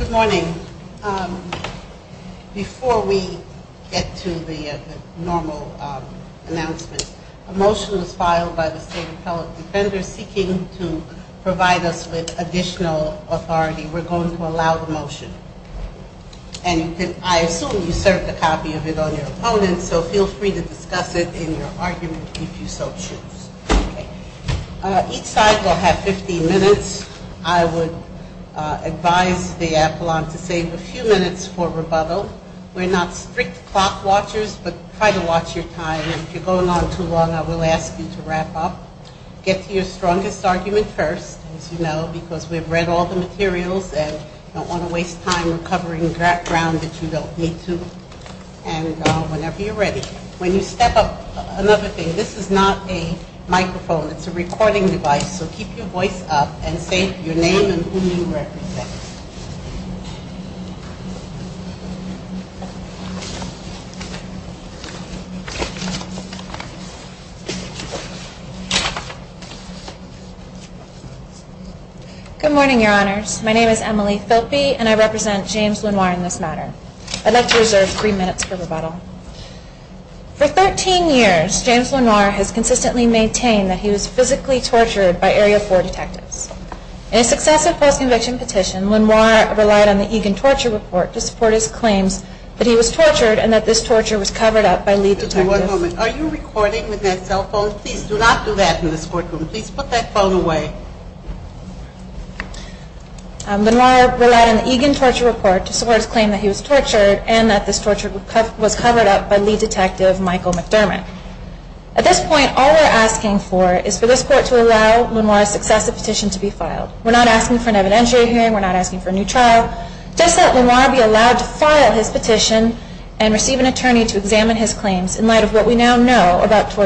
Good morning. Before we get to the normal announcements, a motion was filed by the state appellate defender seeking to provide us with additional authority. We're going to allow the motion. And I assume you served a copy of it on your opponent, so feel free to do that. Each side will have 15 minutes. I would advise the appellant to save a few minutes for rebuttal. We're not strict clock watchers, but try to watch your time. If you're going on too long, I will ask you to wrap up. Get to your strongest argument first, as you know, because we've read all the materials and don't want to waste time recovering ground that you don't need to. And whenever you're ready. When you step up, another thing, this is not a microphone. It's a recording device, so keep your voice up and say your name and who you represent. Good morning, Your Honors. My name is Emily Philppe, and I represent James Lenoir in this matter. I'd like to reserve three minutes for rebuttal. For 13 years, James Lenoir has consistently maintained that he was physically tortured by Area 4 detectives. In a successive false conviction petition, Lenoir relied on the Egan torture report to support his claims that he was tortured and that this torture was covered up by lead detectives. At this point, all we're asking for is for this court to allow Lenoir's successive petition to be filed. We're not asking for an evidentiary hearing. We're not asking for a new trial. Just let Lenoir be allowed to file his petition and receive an attorney to examine his claims in light of the fact that he was tortured by Area 4 detectives. Again, Lenoir was in a maximum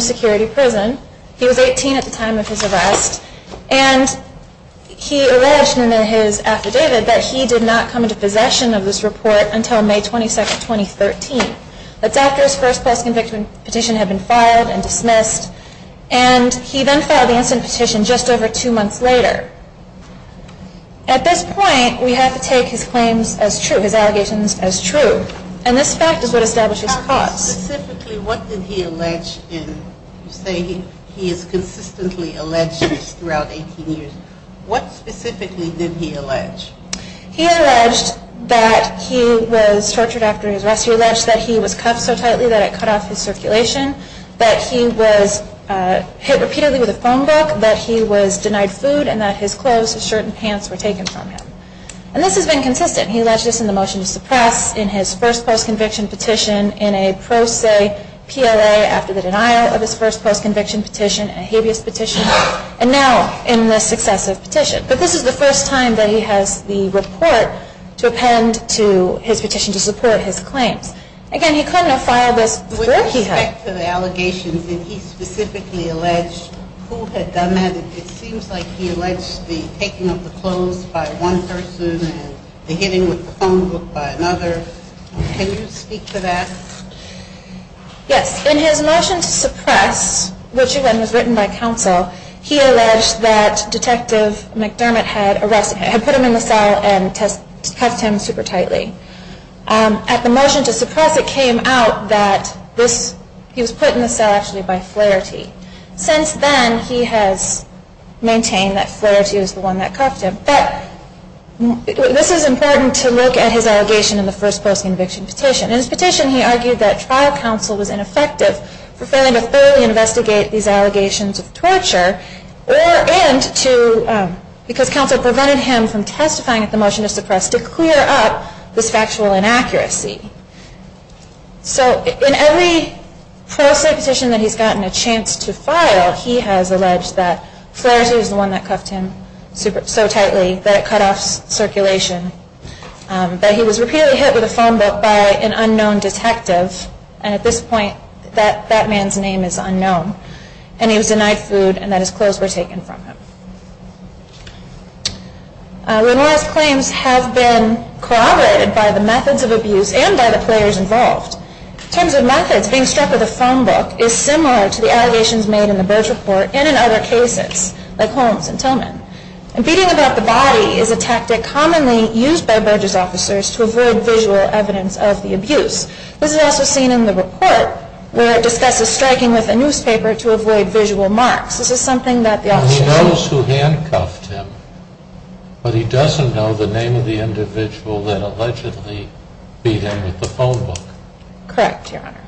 security prison. He was 18 at the time of his arrest, and he alleged in his affidavit that he did not come into possession of this report until May 22, 2013. That's after his first false conviction petition had been filed and dismissed, and he then filed the instant petition just over two months later. At this point, we have to take his claims as true, his allegations as true, and this fact is what establishes the cause. He alleged that he was tortured after his arrest. He alleged that he was cuffed so tightly that it cut off his circulation, that he was hit repeatedly with a phone book, that he was denied food, and that his clothes, his shirt and pants were taken from him. And this has been consistent. He alleged this in the motion to suppress, in his first post-conviction petition, in a pro se PLA after the denial of his first post-conviction petition, in a habeas petition, and now in this successive petition. But this is the first time that he has the report to append to his petition to support his claims. Again, he couldn't have filed this before he had. In respect to the allegations, did he specifically allege who had done that? It seems like he alleged the taking of the clothes by one person and the hitting with the phone book by another. Can you speak to that? Yes. In his motion to suppress, which again was written by counsel, he alleged that Detective McDermott had put him in the cell and cuffed him super tightly. At the motion to suppress, it came out that he was put in the cell actually by Flaherty. Since then, he has maintained that Flaherty was the one that cuffed him. But this is important to look at his allegation in the first post-conviction petition. In his petition, he argued that trial counsel was ineffective for failing to thoroughly investigate these allegations of torture, because counsel prevented him from testifying at the motion to suppress to clear up this factual inaccuracy. In every post-conviction petition that he has gotten a chance to file, he has alleged that Flaherty was the one that cuffed him so tightly that it cut off circulation, that he was repeatedly hit with a phone book by an unknown detective, and at this point that man's name is unknown, and he was denied food and that his clothes were taken from him. Remorse claims have been corroborated by the methods of abuse and by the players involved. In terms of methods, being struck with a phone book is similar to the allegations made in the Burge report and in other cases, like Holmes and Tillman. Beating about the body is a tactic commonly used by Burge's officers to avoid visual evidence of the abuse. This is also seen in the report, where it discusses striking with a newspaper to avoid visual marks. And he knows who handcuffed him, but he doesn't know the name of the individual that allegedly beat him with the phone book. Correct, Your Honor.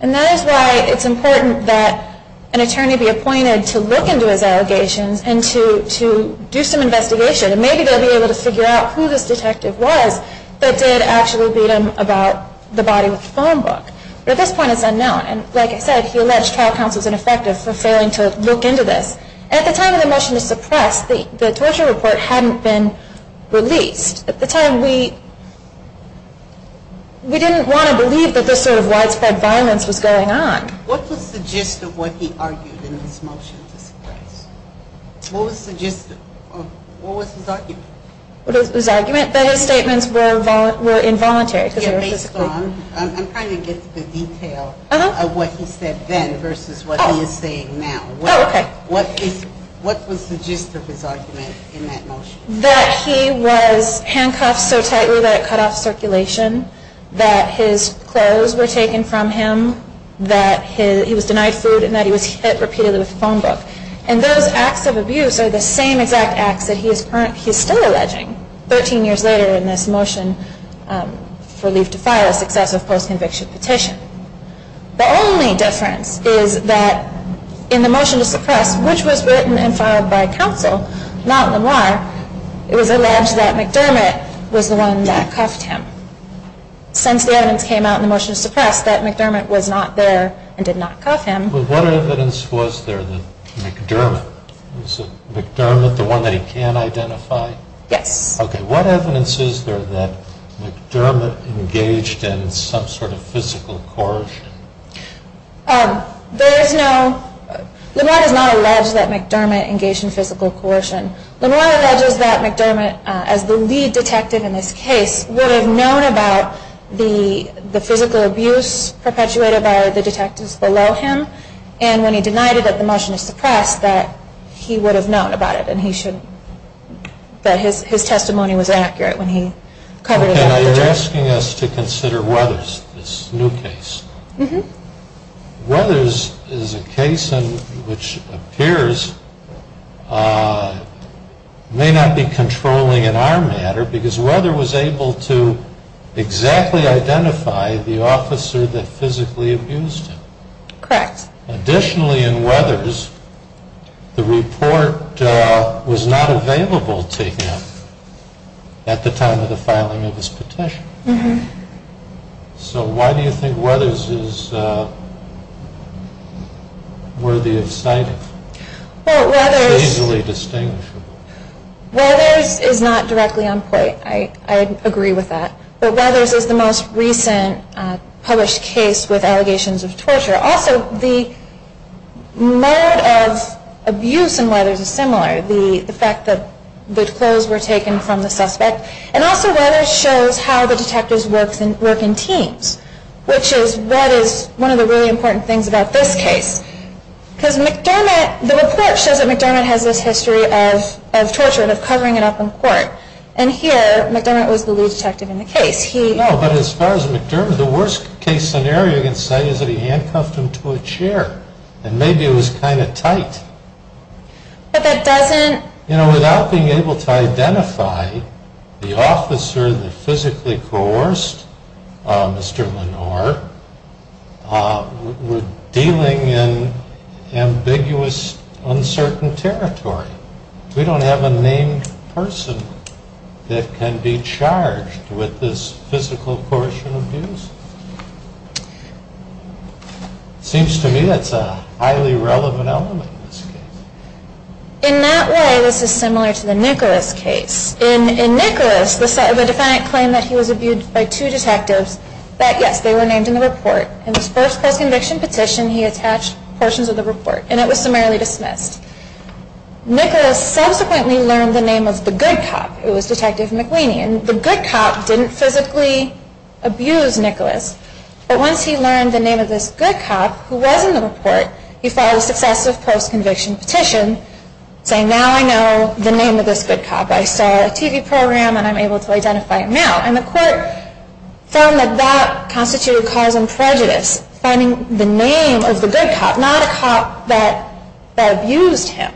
And that is why it's important that an attorney be appointed to look into his allegations and to do some investigation. And maybe they'll be able to figure out who this detective was that did actually beat him about the body with the phone book. But at this point it's unknown, and like I said, he alleged trial counsel was ineffective for failing to look into this. At the time of the motion to suppress, the torture report hadn't been released. At the time, we didn't want to believe that this sort of widespread violence was going on. What was the gist of what he argued in this motion to suppress? What was his argument? His argument that his statements were involuntary. I'm trying to get to the detail of what he said then versus what he is saying now. What was the gist of his argument in that motion? That he was handcuffed so tightly that it cut off circulation. That his clothes were taken from him. That he was denied food and that he was hit repeatedly with a phone book. And those acts of abuse are the same exact acts that he is still alleging 13 years later in this motion for leave to file a successive post-conviction petition. The only difference is that in the motion to suppress, which was written and filed by counsel, not Lamar, it was alleged that McDermott was the one that cuffed him. Since the evidence came out in the motion to suppress that McDermott was not there and did not cuff him. But what evidence was there that McDermott, was McDermott the one that he can identify? Yes. Okay, what evidence is there that McDermott engaged in some sort of physical coercion? There is no, Lamar does not allege that McDermott engaged in physical coercion. Lamar alleges that McDermott, as the lead detective in this case, would have known about the physical abuse perpetuated by the detectives below him. And when he denied it at the motion to suppress, that he would have known about it and he should, that his testimony was accurate when he covered it up. Okay, now you are asking us to consider Weathers, this new case. Weathers is a case which appears may not be controlling in our matter because Weathers was able to exactly identify the officer that physically abused him. Correct. Additionally in Weathers, the report was not available to him at the time of the filing of his petition. So why do you think Weathers is worthy of citing? Weathers is not directly on point, I agree with that. But Weathers is the most recent published case with allegations of torture. Also the mode of abuse in Weathers is similar, the fact that the clothes were taken from the suspect. And also Weathers shows how the detectives work in teams, which is what is one of the really important things about this case. Because McDermott, the report shows that McDermott has this history of torture and of covering it up in court. And here, McDermott was the lead detective in the case. No, but as far as McDermott, the worst case scenario you can say is that he handcuffed him to a chair and maybe it was kind of tight. But that doesn't You know, without being able to identify the officer that physically coerced Mr. Lenore, we are dealing in ambiguous, uncertain territory. We don't have a named person that can be charged with this physical coercion abuse. Seems to me that's a highly relevant element in this case. In that way, this is similar to the Nicholas case. In Nicholas, the defendant claimed that he was abused by two detectives, that yes, they were named in the report. In this first post-conviction petition, he attached portions of the report and it was summarily dismissed. Nicholas subsequently learned the name of the good cop. It was Detective McLean. And the good cop didn't physically abuse Nicholas. But once he learned the name of this good cop who was in the report, he filed a successive post-conviction petition saying, now I know the name of this good cop. I saw a TV program and I'm able to identify him now. And the court found that that constituted cause and prejudice, finding the name of the good cop, not a cop that abused him.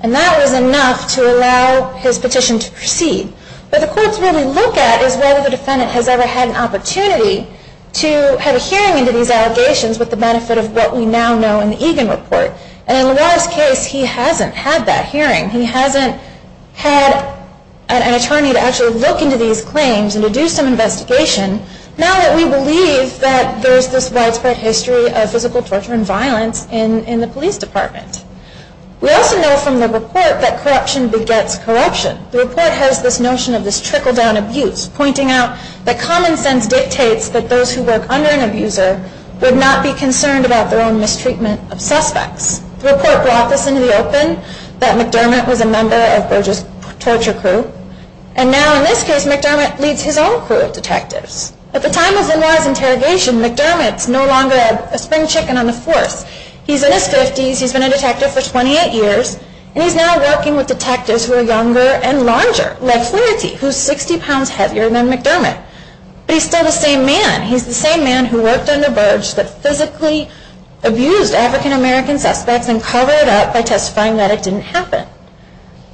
And that was enough to allow his petition to proceed. But the courts really look at is whether the defendant has ever had an opportunity to have a hearing into these allegations with the benefit of what we now know in the Egan report. And in Lenore's case, he hasn't had that hearing. He hasn't had an attorney to actually look into these claims and to do some investigation, now that we believe that there's this widespread history of physical torture and violence in the police department. We also know from the report that corruption begets corruption. The report has this notion of this trickle-down abuse, pointing out that common sense dictates that those who work under an abuser would not be concerned about their own mistreatment of suspects. The report brought this into the open, that McDermott was a member of Burge's torture crew. And now in this case, McDermott leads his own crew of detectives. At the time of Lenore's interrogation, McDermott's no longer a spring chicken on the force. He's in his 50s, he's been a detective for 28 years, and he's now working with detectives who are younger and larger, like Flannerty, who's 60 pounds heavier than McDermott. But he's still the same man. He's the same man who worked under Burge, but physically abused African-American suspects and covered it up by testifying that it didn't happen.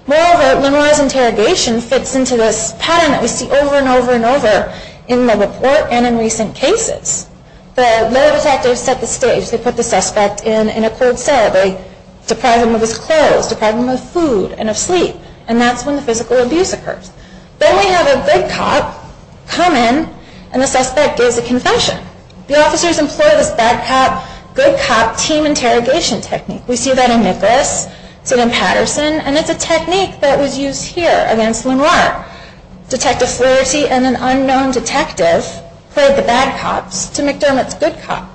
Moreover, Lenore's interrogation fits into this pattern that we see over and over and over in the report and in recent cases. The detectives set the stage. They put the suspect in a cold cell. They deprive him of his clothes, deprive him of food and of sleep. And that's when the physical abuse occurs. Then we have a good cop come in and the suspect gives a confession. The officers employ this bad cop, good cop team interrogation technique. We see that in Nicholas, we see it in Patterson, and it's a technique that was used here against Lenore. Detective Flannerty and an unknown detective played the bad cops to McDermott's good cop.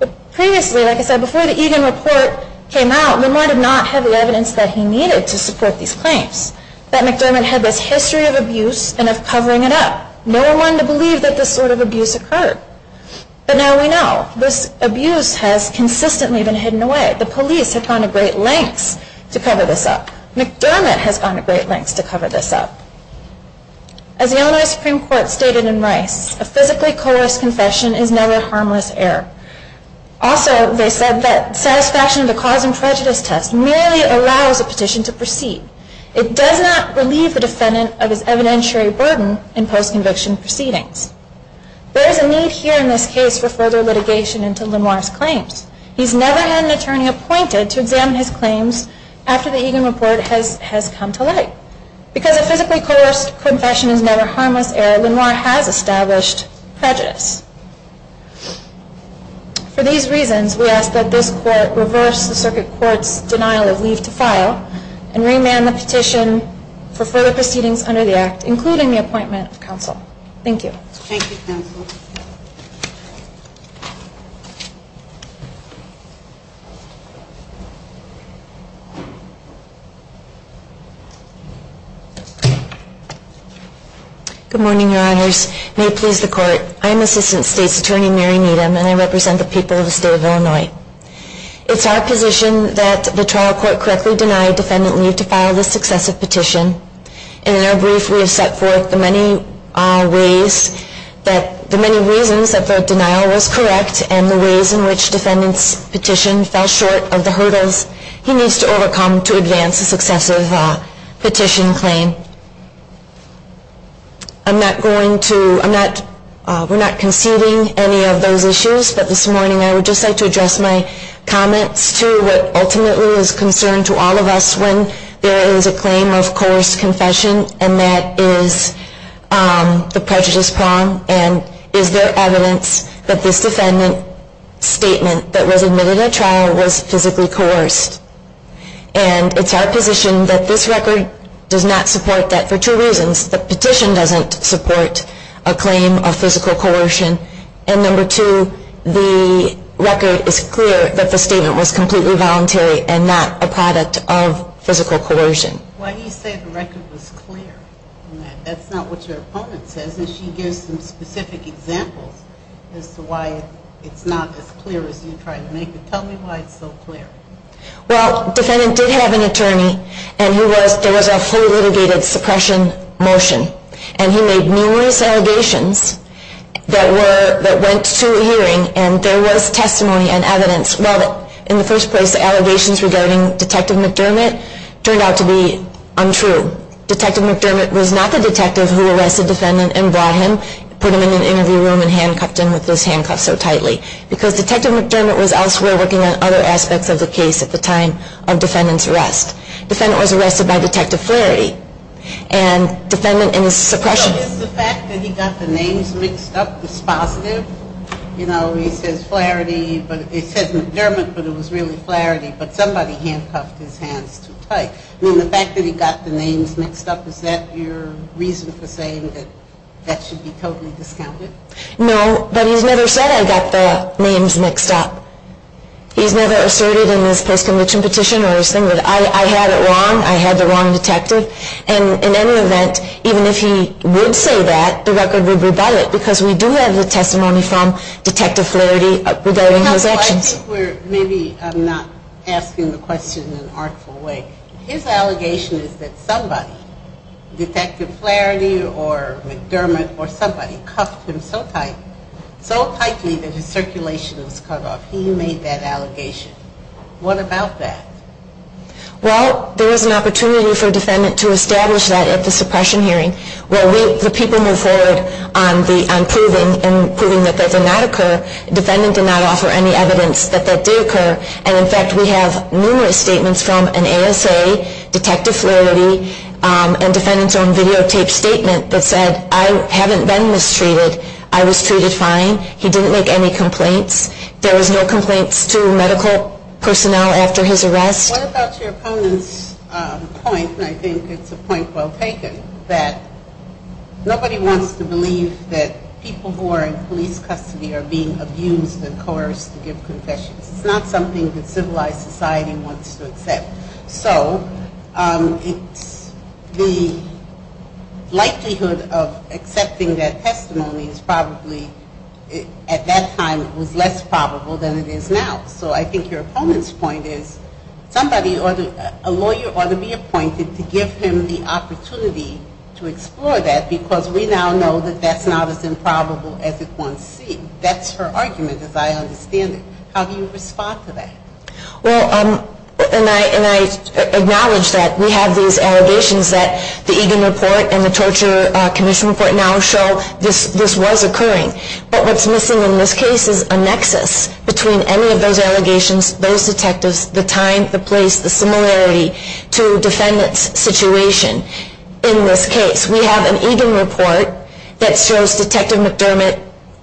But previously, like I said, before the Egan report came out, Lenore did not have the evidence that he needed to support these claims. That McDermott had this history of abuse and of covering it up. No one to believe that this sort of abuse occurred. But now we know. This abuse has consistently been hidden away. The police have gone to great lengths to cover this up. McDermott has gone to great lengths to cover this up. As the Illinois Supreme Court stated in Rice, a physically coerced confession is never harmless error. Also, they said that satisfaction of the cause and prejudice test merely allows a petition to proceed. It does not relieve the defendant of his evidentiary burden in post-conviction proceedings. There is a need here in this case for further litigation into Lenore's claims. He's never had an attorney appointed to examine his claims after the Egan report has come to light. Because a physically coerced confession is never harmless error, Lenore has established prejudice. For these reasons, we ask that this Court reverse the Circuit Court's denial of leave to file and remand the petition for further proceedings under the Act, including the appointment of counsel. Thank you. Thank you, counsel. Good morning, Your Honors. May it please the Court. I am Assistant State's Attorney Mary Needham, and I represent the people of the State of Illinois. It is our position that the trial court correctly deny defendant leave to file this successive petition. In our brief, we have set forth the many reasons that the denial was correct and the ways in which defendant's petition fell short of the hurdles he needs to overcome to advance a successive petition claim. I'm not going to, I'm not, we're not conceding any of those issues, but this morning I would just like to address my comments to what ultimately is a concern to all of us when there is a claim of coerced confession and that is the prejudice prong and is there evidence that this defendant statement that was admitted at trial was physically coerced. And it's our position that this record does not support that for two reasons. The petition doesn't support a claim of physical coercion. And number two, the record is clear that the statement was completely voluntary and not a product of physical coercion. Why do you say the record was clear? That's not what your opponent says, and she gives some specific examples as to why it's not as clear as you try to make it. Tell me why it's so clear. Well, defendant did have an attorney and there was a full litigated suppression motion and he made numerous allegations that went to a hearing and there was testimony and evidence. Well, in the first place, the allegations regarding Detective McDermott turned out to be untrue. Detective McDermott was not the detective who arrested defendant and brought him, put him in an interview room and handcuffed him with those handcuffs so tightly because Detective McDermott was elsewhere working on other aspects of the case at the time of defendant's arrest. Defendant was arrested by Detective Flaherty and defendant in his suppression. So is the fact that he got the names mixed up dispositive? You know, he says Flaherty, but he says McDermott, but it was really Flaherty, but somebody handcuffed his hands too tight. I mean, the fact that he got the names mixed up, is that your reason for saying that that should be totally discounted? No, but he's never said I got the names mixed up. He's never asserted in his post-conviction petition or his thing that I had it wrong, I had the wrong detective. And in any event, even if he would say that, the record would rebut it because we do have the testimony from Detective Flaherty regarding his actions. Counsel, I think we're maybe not asking the question in an artful way. His allegation is that somebody, Detective Flaherty or McDermott or somebody, cuffed him so tightly that his circulation was cut off. He made that allegation. What about that? Well, there was an opportunity for defendant to establish that at the suppression hearing. Well, the people move forward on proving that that did not occur. Defendant did not offer any evidence that that did occur. And, in fact, we have numerous statements from an ASA, Detective Flaherty, and defendant's own videotaped statement that said I haven't been mistreated. I was treated fine. He didn't make any complaints. There was no complaints to medical personnel after his arrest. What about your opponent's point, and I think it's a point well taken, that nobody wants to believe that people who are in police custody are being abused and coerced to give confessions. It's not something that civilized society wants to accept. So it's the likelihood of accepting that testimony is probably, at that time, it was less probable than it is now. So I think your opponent's point is a lawyer ought to be appointed to give him the opportunity to explore that because we now know that that's not as improbable as it once seemed. That's her argument, as I understand it. How do you respond to that? Well, and I acknowledge that we have these allegations that the Egan Report and the Torture Commission Report now show this was occurring. But what's missing in this case is a nexus between any of those allegations, those detectives, the time, the place, the similarity to defendant's situation in this case. We have an Egan Report that shows Detective McDermott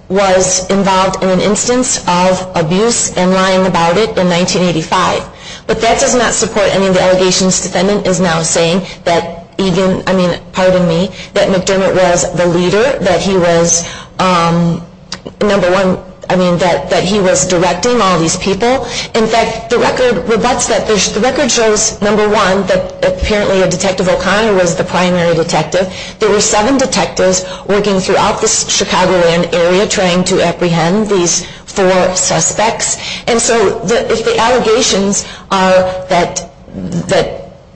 was involved in an instance of abuse and lying about it in 1985. But that does not support any of the allegations defendant is now saying that Egan, I mean, pardon me, that McDermott was the leader, that he was number one, I mean, that he was directing all these people. In fact, the record rebutts that. The record shows, number one, that apparently Detective O'Connor was the primary detective. There were seven detectives working throughout the Chicagoland area trying to apprehend these four suspects. And so if the allegations are that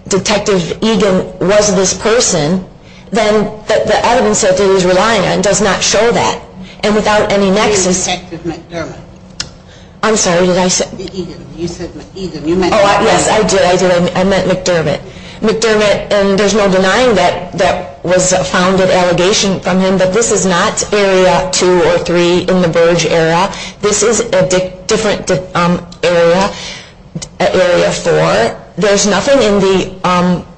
Detective Egan was this person, then the evidence that he was relying on does not show that. And without any nexus. Where is Detective McDermott? I'm sorry, did I say? You said Egan. Oh, yes, I did, I did. I meant McDermott. McDermott, and there's no denying that that was a founded allegation from him, but this is not Area 2 or 3 in the Burge area. This is a different area, Area 4. There's nothing in the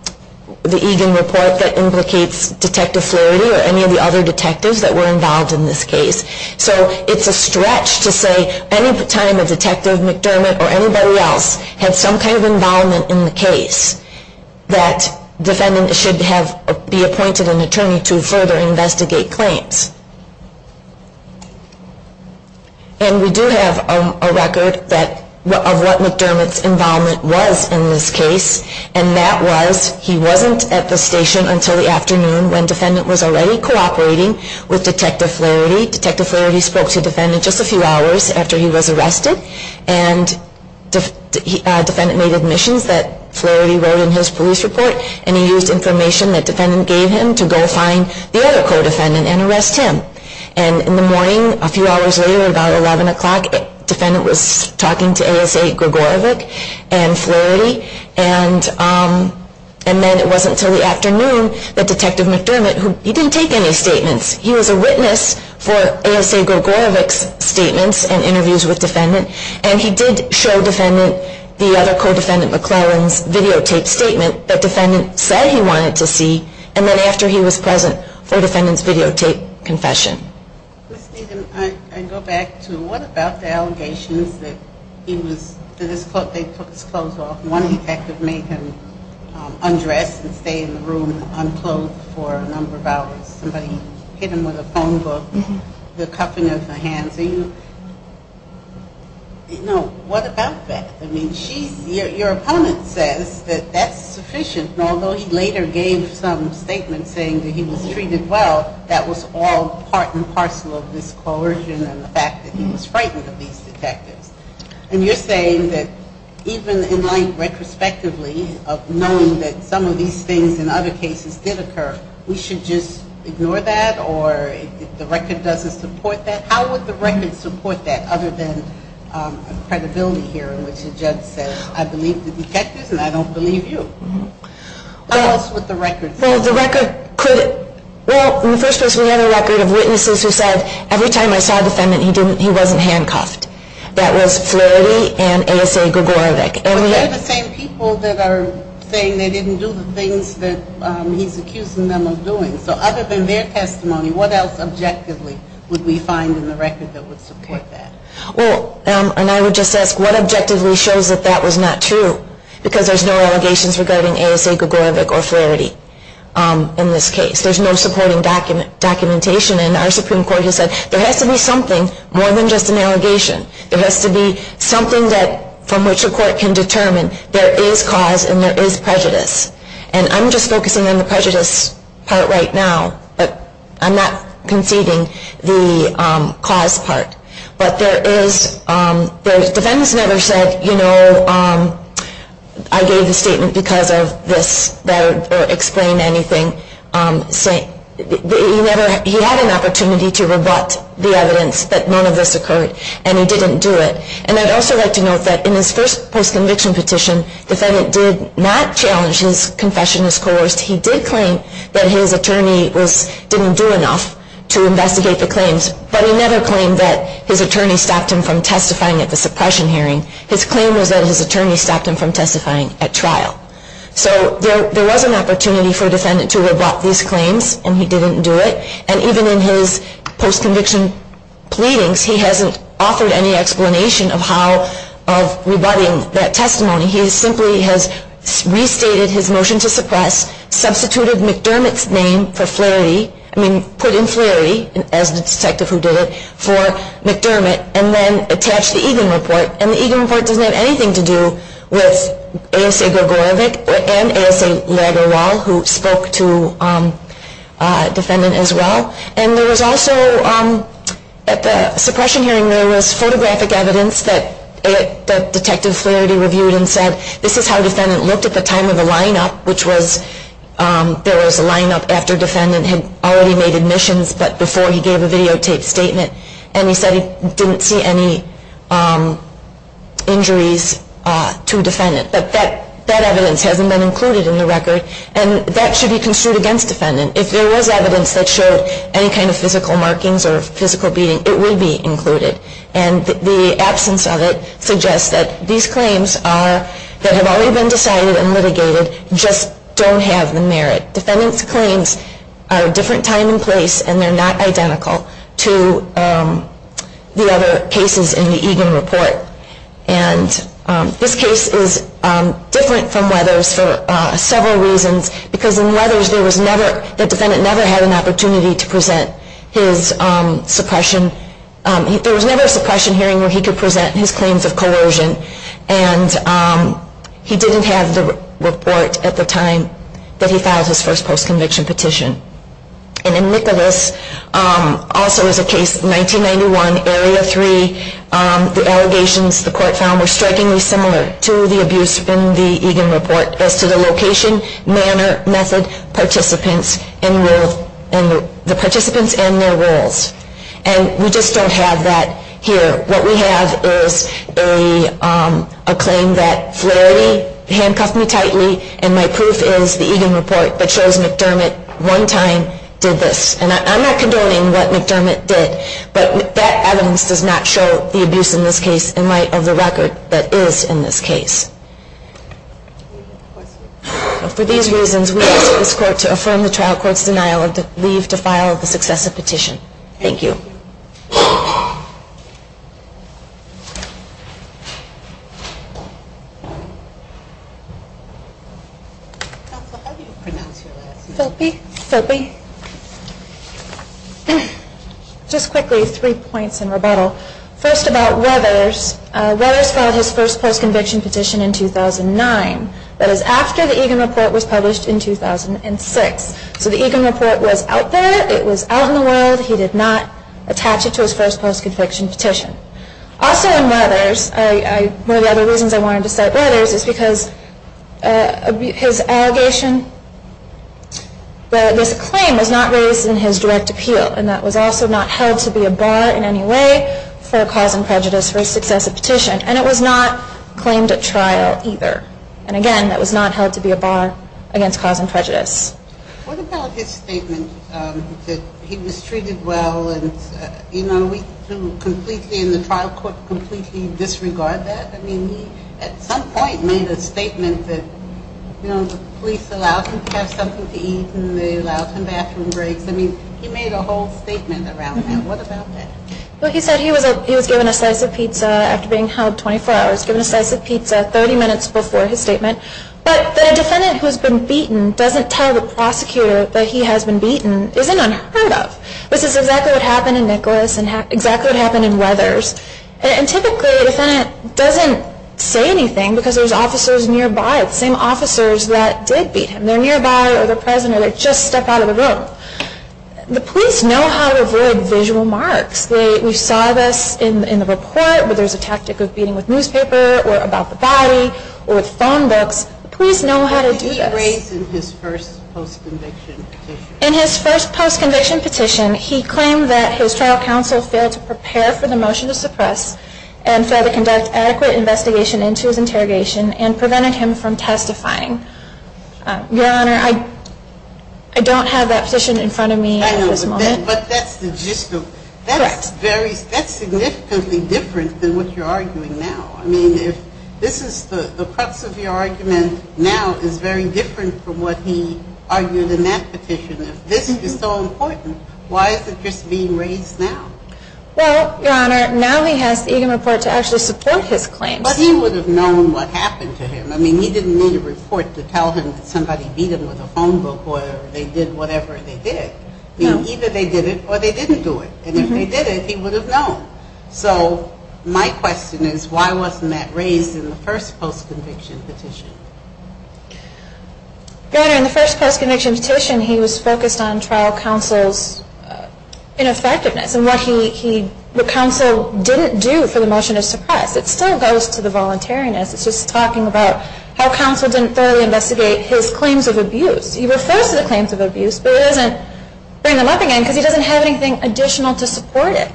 Egan Report that implicates Detective Flaherty or any of the other detectives that were involved in this case. So it's a stretch to say any time a Detective McDermott or anybody else had some kind of involvement in the case, that defendant should have been appointed an attorney to further investigate claims. And we do have a record of what McDermott's involvement was in this case, and that was he wasn't at the station until the afternoon when defendant was already cooperating with Detective Flaherty. Detective Flaherty spoke to defendant just a few hours after he was arrested, and defendant made admissions that Flaherty wrote in his police report, and he used information that defendant gave him to go find the other co-defendant and arrest him. And in the morning, a few hours later, about 11 o'clock, defendant was talking to ASA Gregorovic and Flaherty, and then it wasn't until the afternoon that Detective McDermott, he didn't take any statements. He was a witness for ASA Gregorovic's statements and interviews with defendant, and he did show defendant the other co-defendant McClellan's videotaped statement that defendant said he wanted to see, and then after he was present for defendant's videotaped confession. Ms. Needham, I go back to what about the allegations that he was, that they took his clothes off, one effect that made him undress and stay in the room unclothed for a number of hours. Somebody hit him with a phone book, the cuffing of the hands. Are you, you know, what about that? I mean, she's, your opponent says that that's sufficient, and although he later gave some statements saying that he was treated well, that was all part and parcel of this coercion and the fact that he was frightened of these detectives, and you're saying that even in light retrospectively of knowing that some of these things in other cases did occur, we should just ignore that, or if the record doesn't support that, how would the record support that, other than credibility here in which the judge says, I believe the detectives and I don't believe you. What else would the record say? Well, the record could, well, in the first place, we have a record of witnesses who said every time I saw the defendant, he wasn't handcuffed. That was Flaherty and A.S.A. Gregorovic. But they're the same people that are saying they didn't do the things that he's accusing them of doing. So other than their testimony, what else objectively would we find in the record that would support that? Well, and I would just ask, what objectively shows that that was not true? Because there's no allegations regarding A.S.A. Gregorovic or Flaherty in this case. There's no supporting documentation. And our Supreme Court has said there has to be something more than just an allegation. There has to be something from which a court can determine there is cause and there is prejudice. And I'm just focusing on the prejudice part right now, but I'm not conceding the cause part. But there is, the defendants never said, you know, I gave the statement because of this, or explained anything. He had an opportunity to rebut the evidence that none of this occurred, and he didn't do it. And I'd also like to note that in his first post-conviction petition, the defendant did not challenge his confession as coerced. He did claim that his attorney didn't do enough to investigate the claims. But he never claimed that his attorney stopped him from testifying at the suppression hearing. His claim was that his attorney stopped him from testifying at trial. So there was an opportunity for a defendant to rebut these claims, and he didn't do it. And even in his post-conviction pleadings, he hasn't offered any explanation of how of rebutting that testimony. He simply has restated his motion to suppress, substituted McDermott's name for Flaherty, I mean, put in Flaherty, as the detective who did it, for McDermott, and then attached the Egan report. And the Egan report doesn't have anything to do with A.S.A. Gregorovic and A.S.A. Lagerwal, who spoke to the defendant as well. And there was also, at the suppression hearing, there was photographic evidence that Detective Flaherty reviewed and said, this is how the defendant looked at the time of the line-up, which was, there was a line-up after defendant had already made admissions, but before he gave a videotaped statement, and he said he didn't see any injuries to defendant. But that evidence hasn't been included in the record, and that should be construed against defendant. If there was evidence that showed any kind of physical markings or physical beating, it would be included. And the absence of it suggests that these claims are, that have already been decided and litigated, just don't have the merit. Defendant's claims are a different time and place, and they're not identical to the other cases in the Egan report. And this case is different from Weathers for several reasons, because in Weathers, there was never, the defendant never had an opportunity to present his suppression, there was never a suppression hearing where he could present his claims of coercion, and he didn't have the report at the time that he filed his first post-conviction petition. And in Nicholas, also as a case, 1991, Area 3, the allegations the court found were strikingly similar to the abuse in the Egan report, as to the location, manner, method, participants, and the participants and their roles. And we just don't have that here. What we have is a claim that Flaherty handcuffed me tightly, and my proof is the Egan report, that shows McDermott one time did this. And I'm not condoning what McDermott did, but that evidence does not show the abuse in this case, For these reasons, we ask that this court to affirm the trial court's denial of the leave to file the successive petition. Thank you. Counselor, how do you pronounce your last name? Phelpe. Phelpe. Just quickly, three points in rebuttal. First about Weathers. Weathers filed his first post-conviction petition in 2009. That is after the Egan report was published in 2006. So the Egan report was out there. It was out in the world. He did not attach it to his first post-conviction petition. Also in Weathers, one of the other reasons I wanted to cite Weathers is because his allegation, that this claim was not raised in his direct appeal, and that was also not held to be a bar in any way for cause and prejudice for a successive petition. And it was not claimed at trial either. And again, that was not held to be a bar against cause and prejudice. What about his statement that he was treated well and, you know, we can completely, in the trial court, completely disregard that? I mean, he at some point made a statement that, you know, the police allowed him to have something to eat and they allowed him bathroom breaks. I mean, he made a whole statement around that. What about that? Well, he said he was given a slice of pizza after being held 24 hours, given a slice of pizza 30 minutes before his statement. But that a defendant who has been beaten doesn't tell the prosecutor that he has been beaten isn't unheard of. This is exactly what happened in Nicholas and exactly what happened in Weathers. And typically a defendant doesn't say anything because there's officers nearby, the same officers that did beat him. They're nearby or they're present or they just stepped out of the room. The police know how to avoid visual marks. We saw this in the report where there's a tactic of beating with newspaper or about the body or with phone books. The police know how to do this. Did he raise in his first post-conviction petition? In his first post-conviction petition, he claimed that his trial counsel failed to prepare for the motion to suppress and failed to conduct adequate investigation into his interrogation and prevented him from testifying. Your Honor, I don't have that petition in front of me at this moment. I know, but that's the gist of it. Correct. That's significantly different than what you're arguing now. I mean, if this is the preface of your argument now is very different from what he argued in that petition. If this is so important, why isn't this being raised now? Well, Your Honor, now he has the Eagan report to actually support his claims. But he would have known what happened to him. I mean, he didn't need a report to tell him that somebody beat him with a phone book or they did whatever they did. Either they did it or they didn't do it. And if they did it, he would have known. So my question is why wasn't that raised in the first post-conviction petition? Your Honor, in the first post-conviction petition, he was focused on trial counsel's ineffectiveness and what counsel didn't do for the motion to suppress. It still goes to the voluntariness. It's just talking about how counsel didn't thoroughly investigate his claims of abuse. He refers to the claims of abuse, but he doesn't bring them up again because he doesn't have anything additional to support it.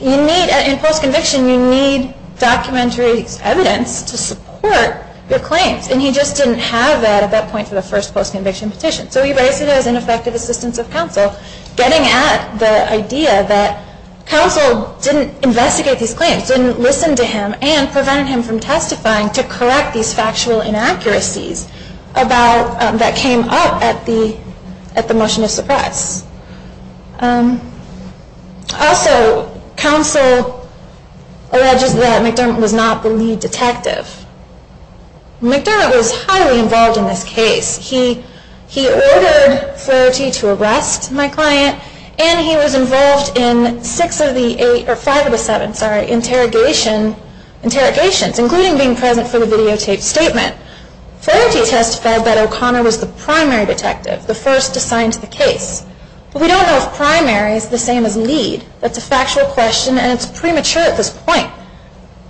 In post-conviction, you need documentary evidence to support your claims. And he just didn't have that at that point for the first post-conviction petition. So he raised it as ineffective assistance of counsel, getting at the idea that counsel didn't investigate these claims, didn't listen to him, and prevented him from testifying to correct these factual inaccuracies that came up at the motion to suppress. Also, counsel alleges that McDermott was not the lead detective. McDermott was highly involved in this case. He ordered Flaherty to arrest my client, and he was involved in five of the seven interrogations, including being present for the videotaped statement. Flaherty testified that O'Connor was the primary detective, the first to sign to the case. But we don't know if primary is the same as lead. That's a factual question, and it's premature at this point.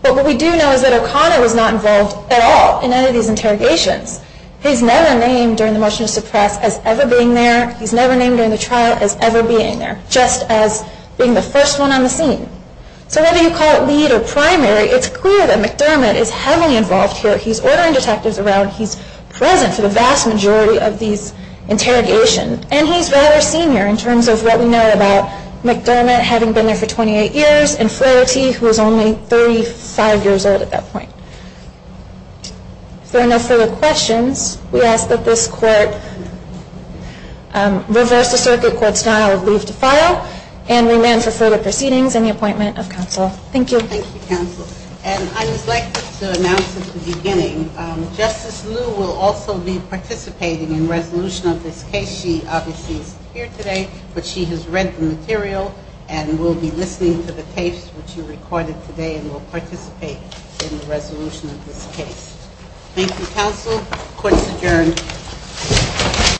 But what we do know is that O'Connor was not involved at all in any of these interrogations. He's never named during the motion to suppress as ever being there. He's never named during the trial as ever being there, just as being the first one on the scene. So whether you call it lead or primary, it's clear that McDermott is heavily involved here. He's ordering detectives around. He's present for the vast majority of these interrogations. And he's rather senior in terms of what we know about McDermott having been there for 28 years and Flaherty, who was only 35 years old at that point. If there are no further questions, we ask that this court reverse the circuit court style of leave to file and remand for further proceedings and the appointment of counsel. Thank you. Thank you, counsel. And I would like to announce at the beginning, Justice Liu will also be participating in resolution of this case. She obviously isn't here today, but she has read the material and will be listening to the tapes which you recorded today and will participate in the resolution of this case. Thank you, counsel. Court is adjourned.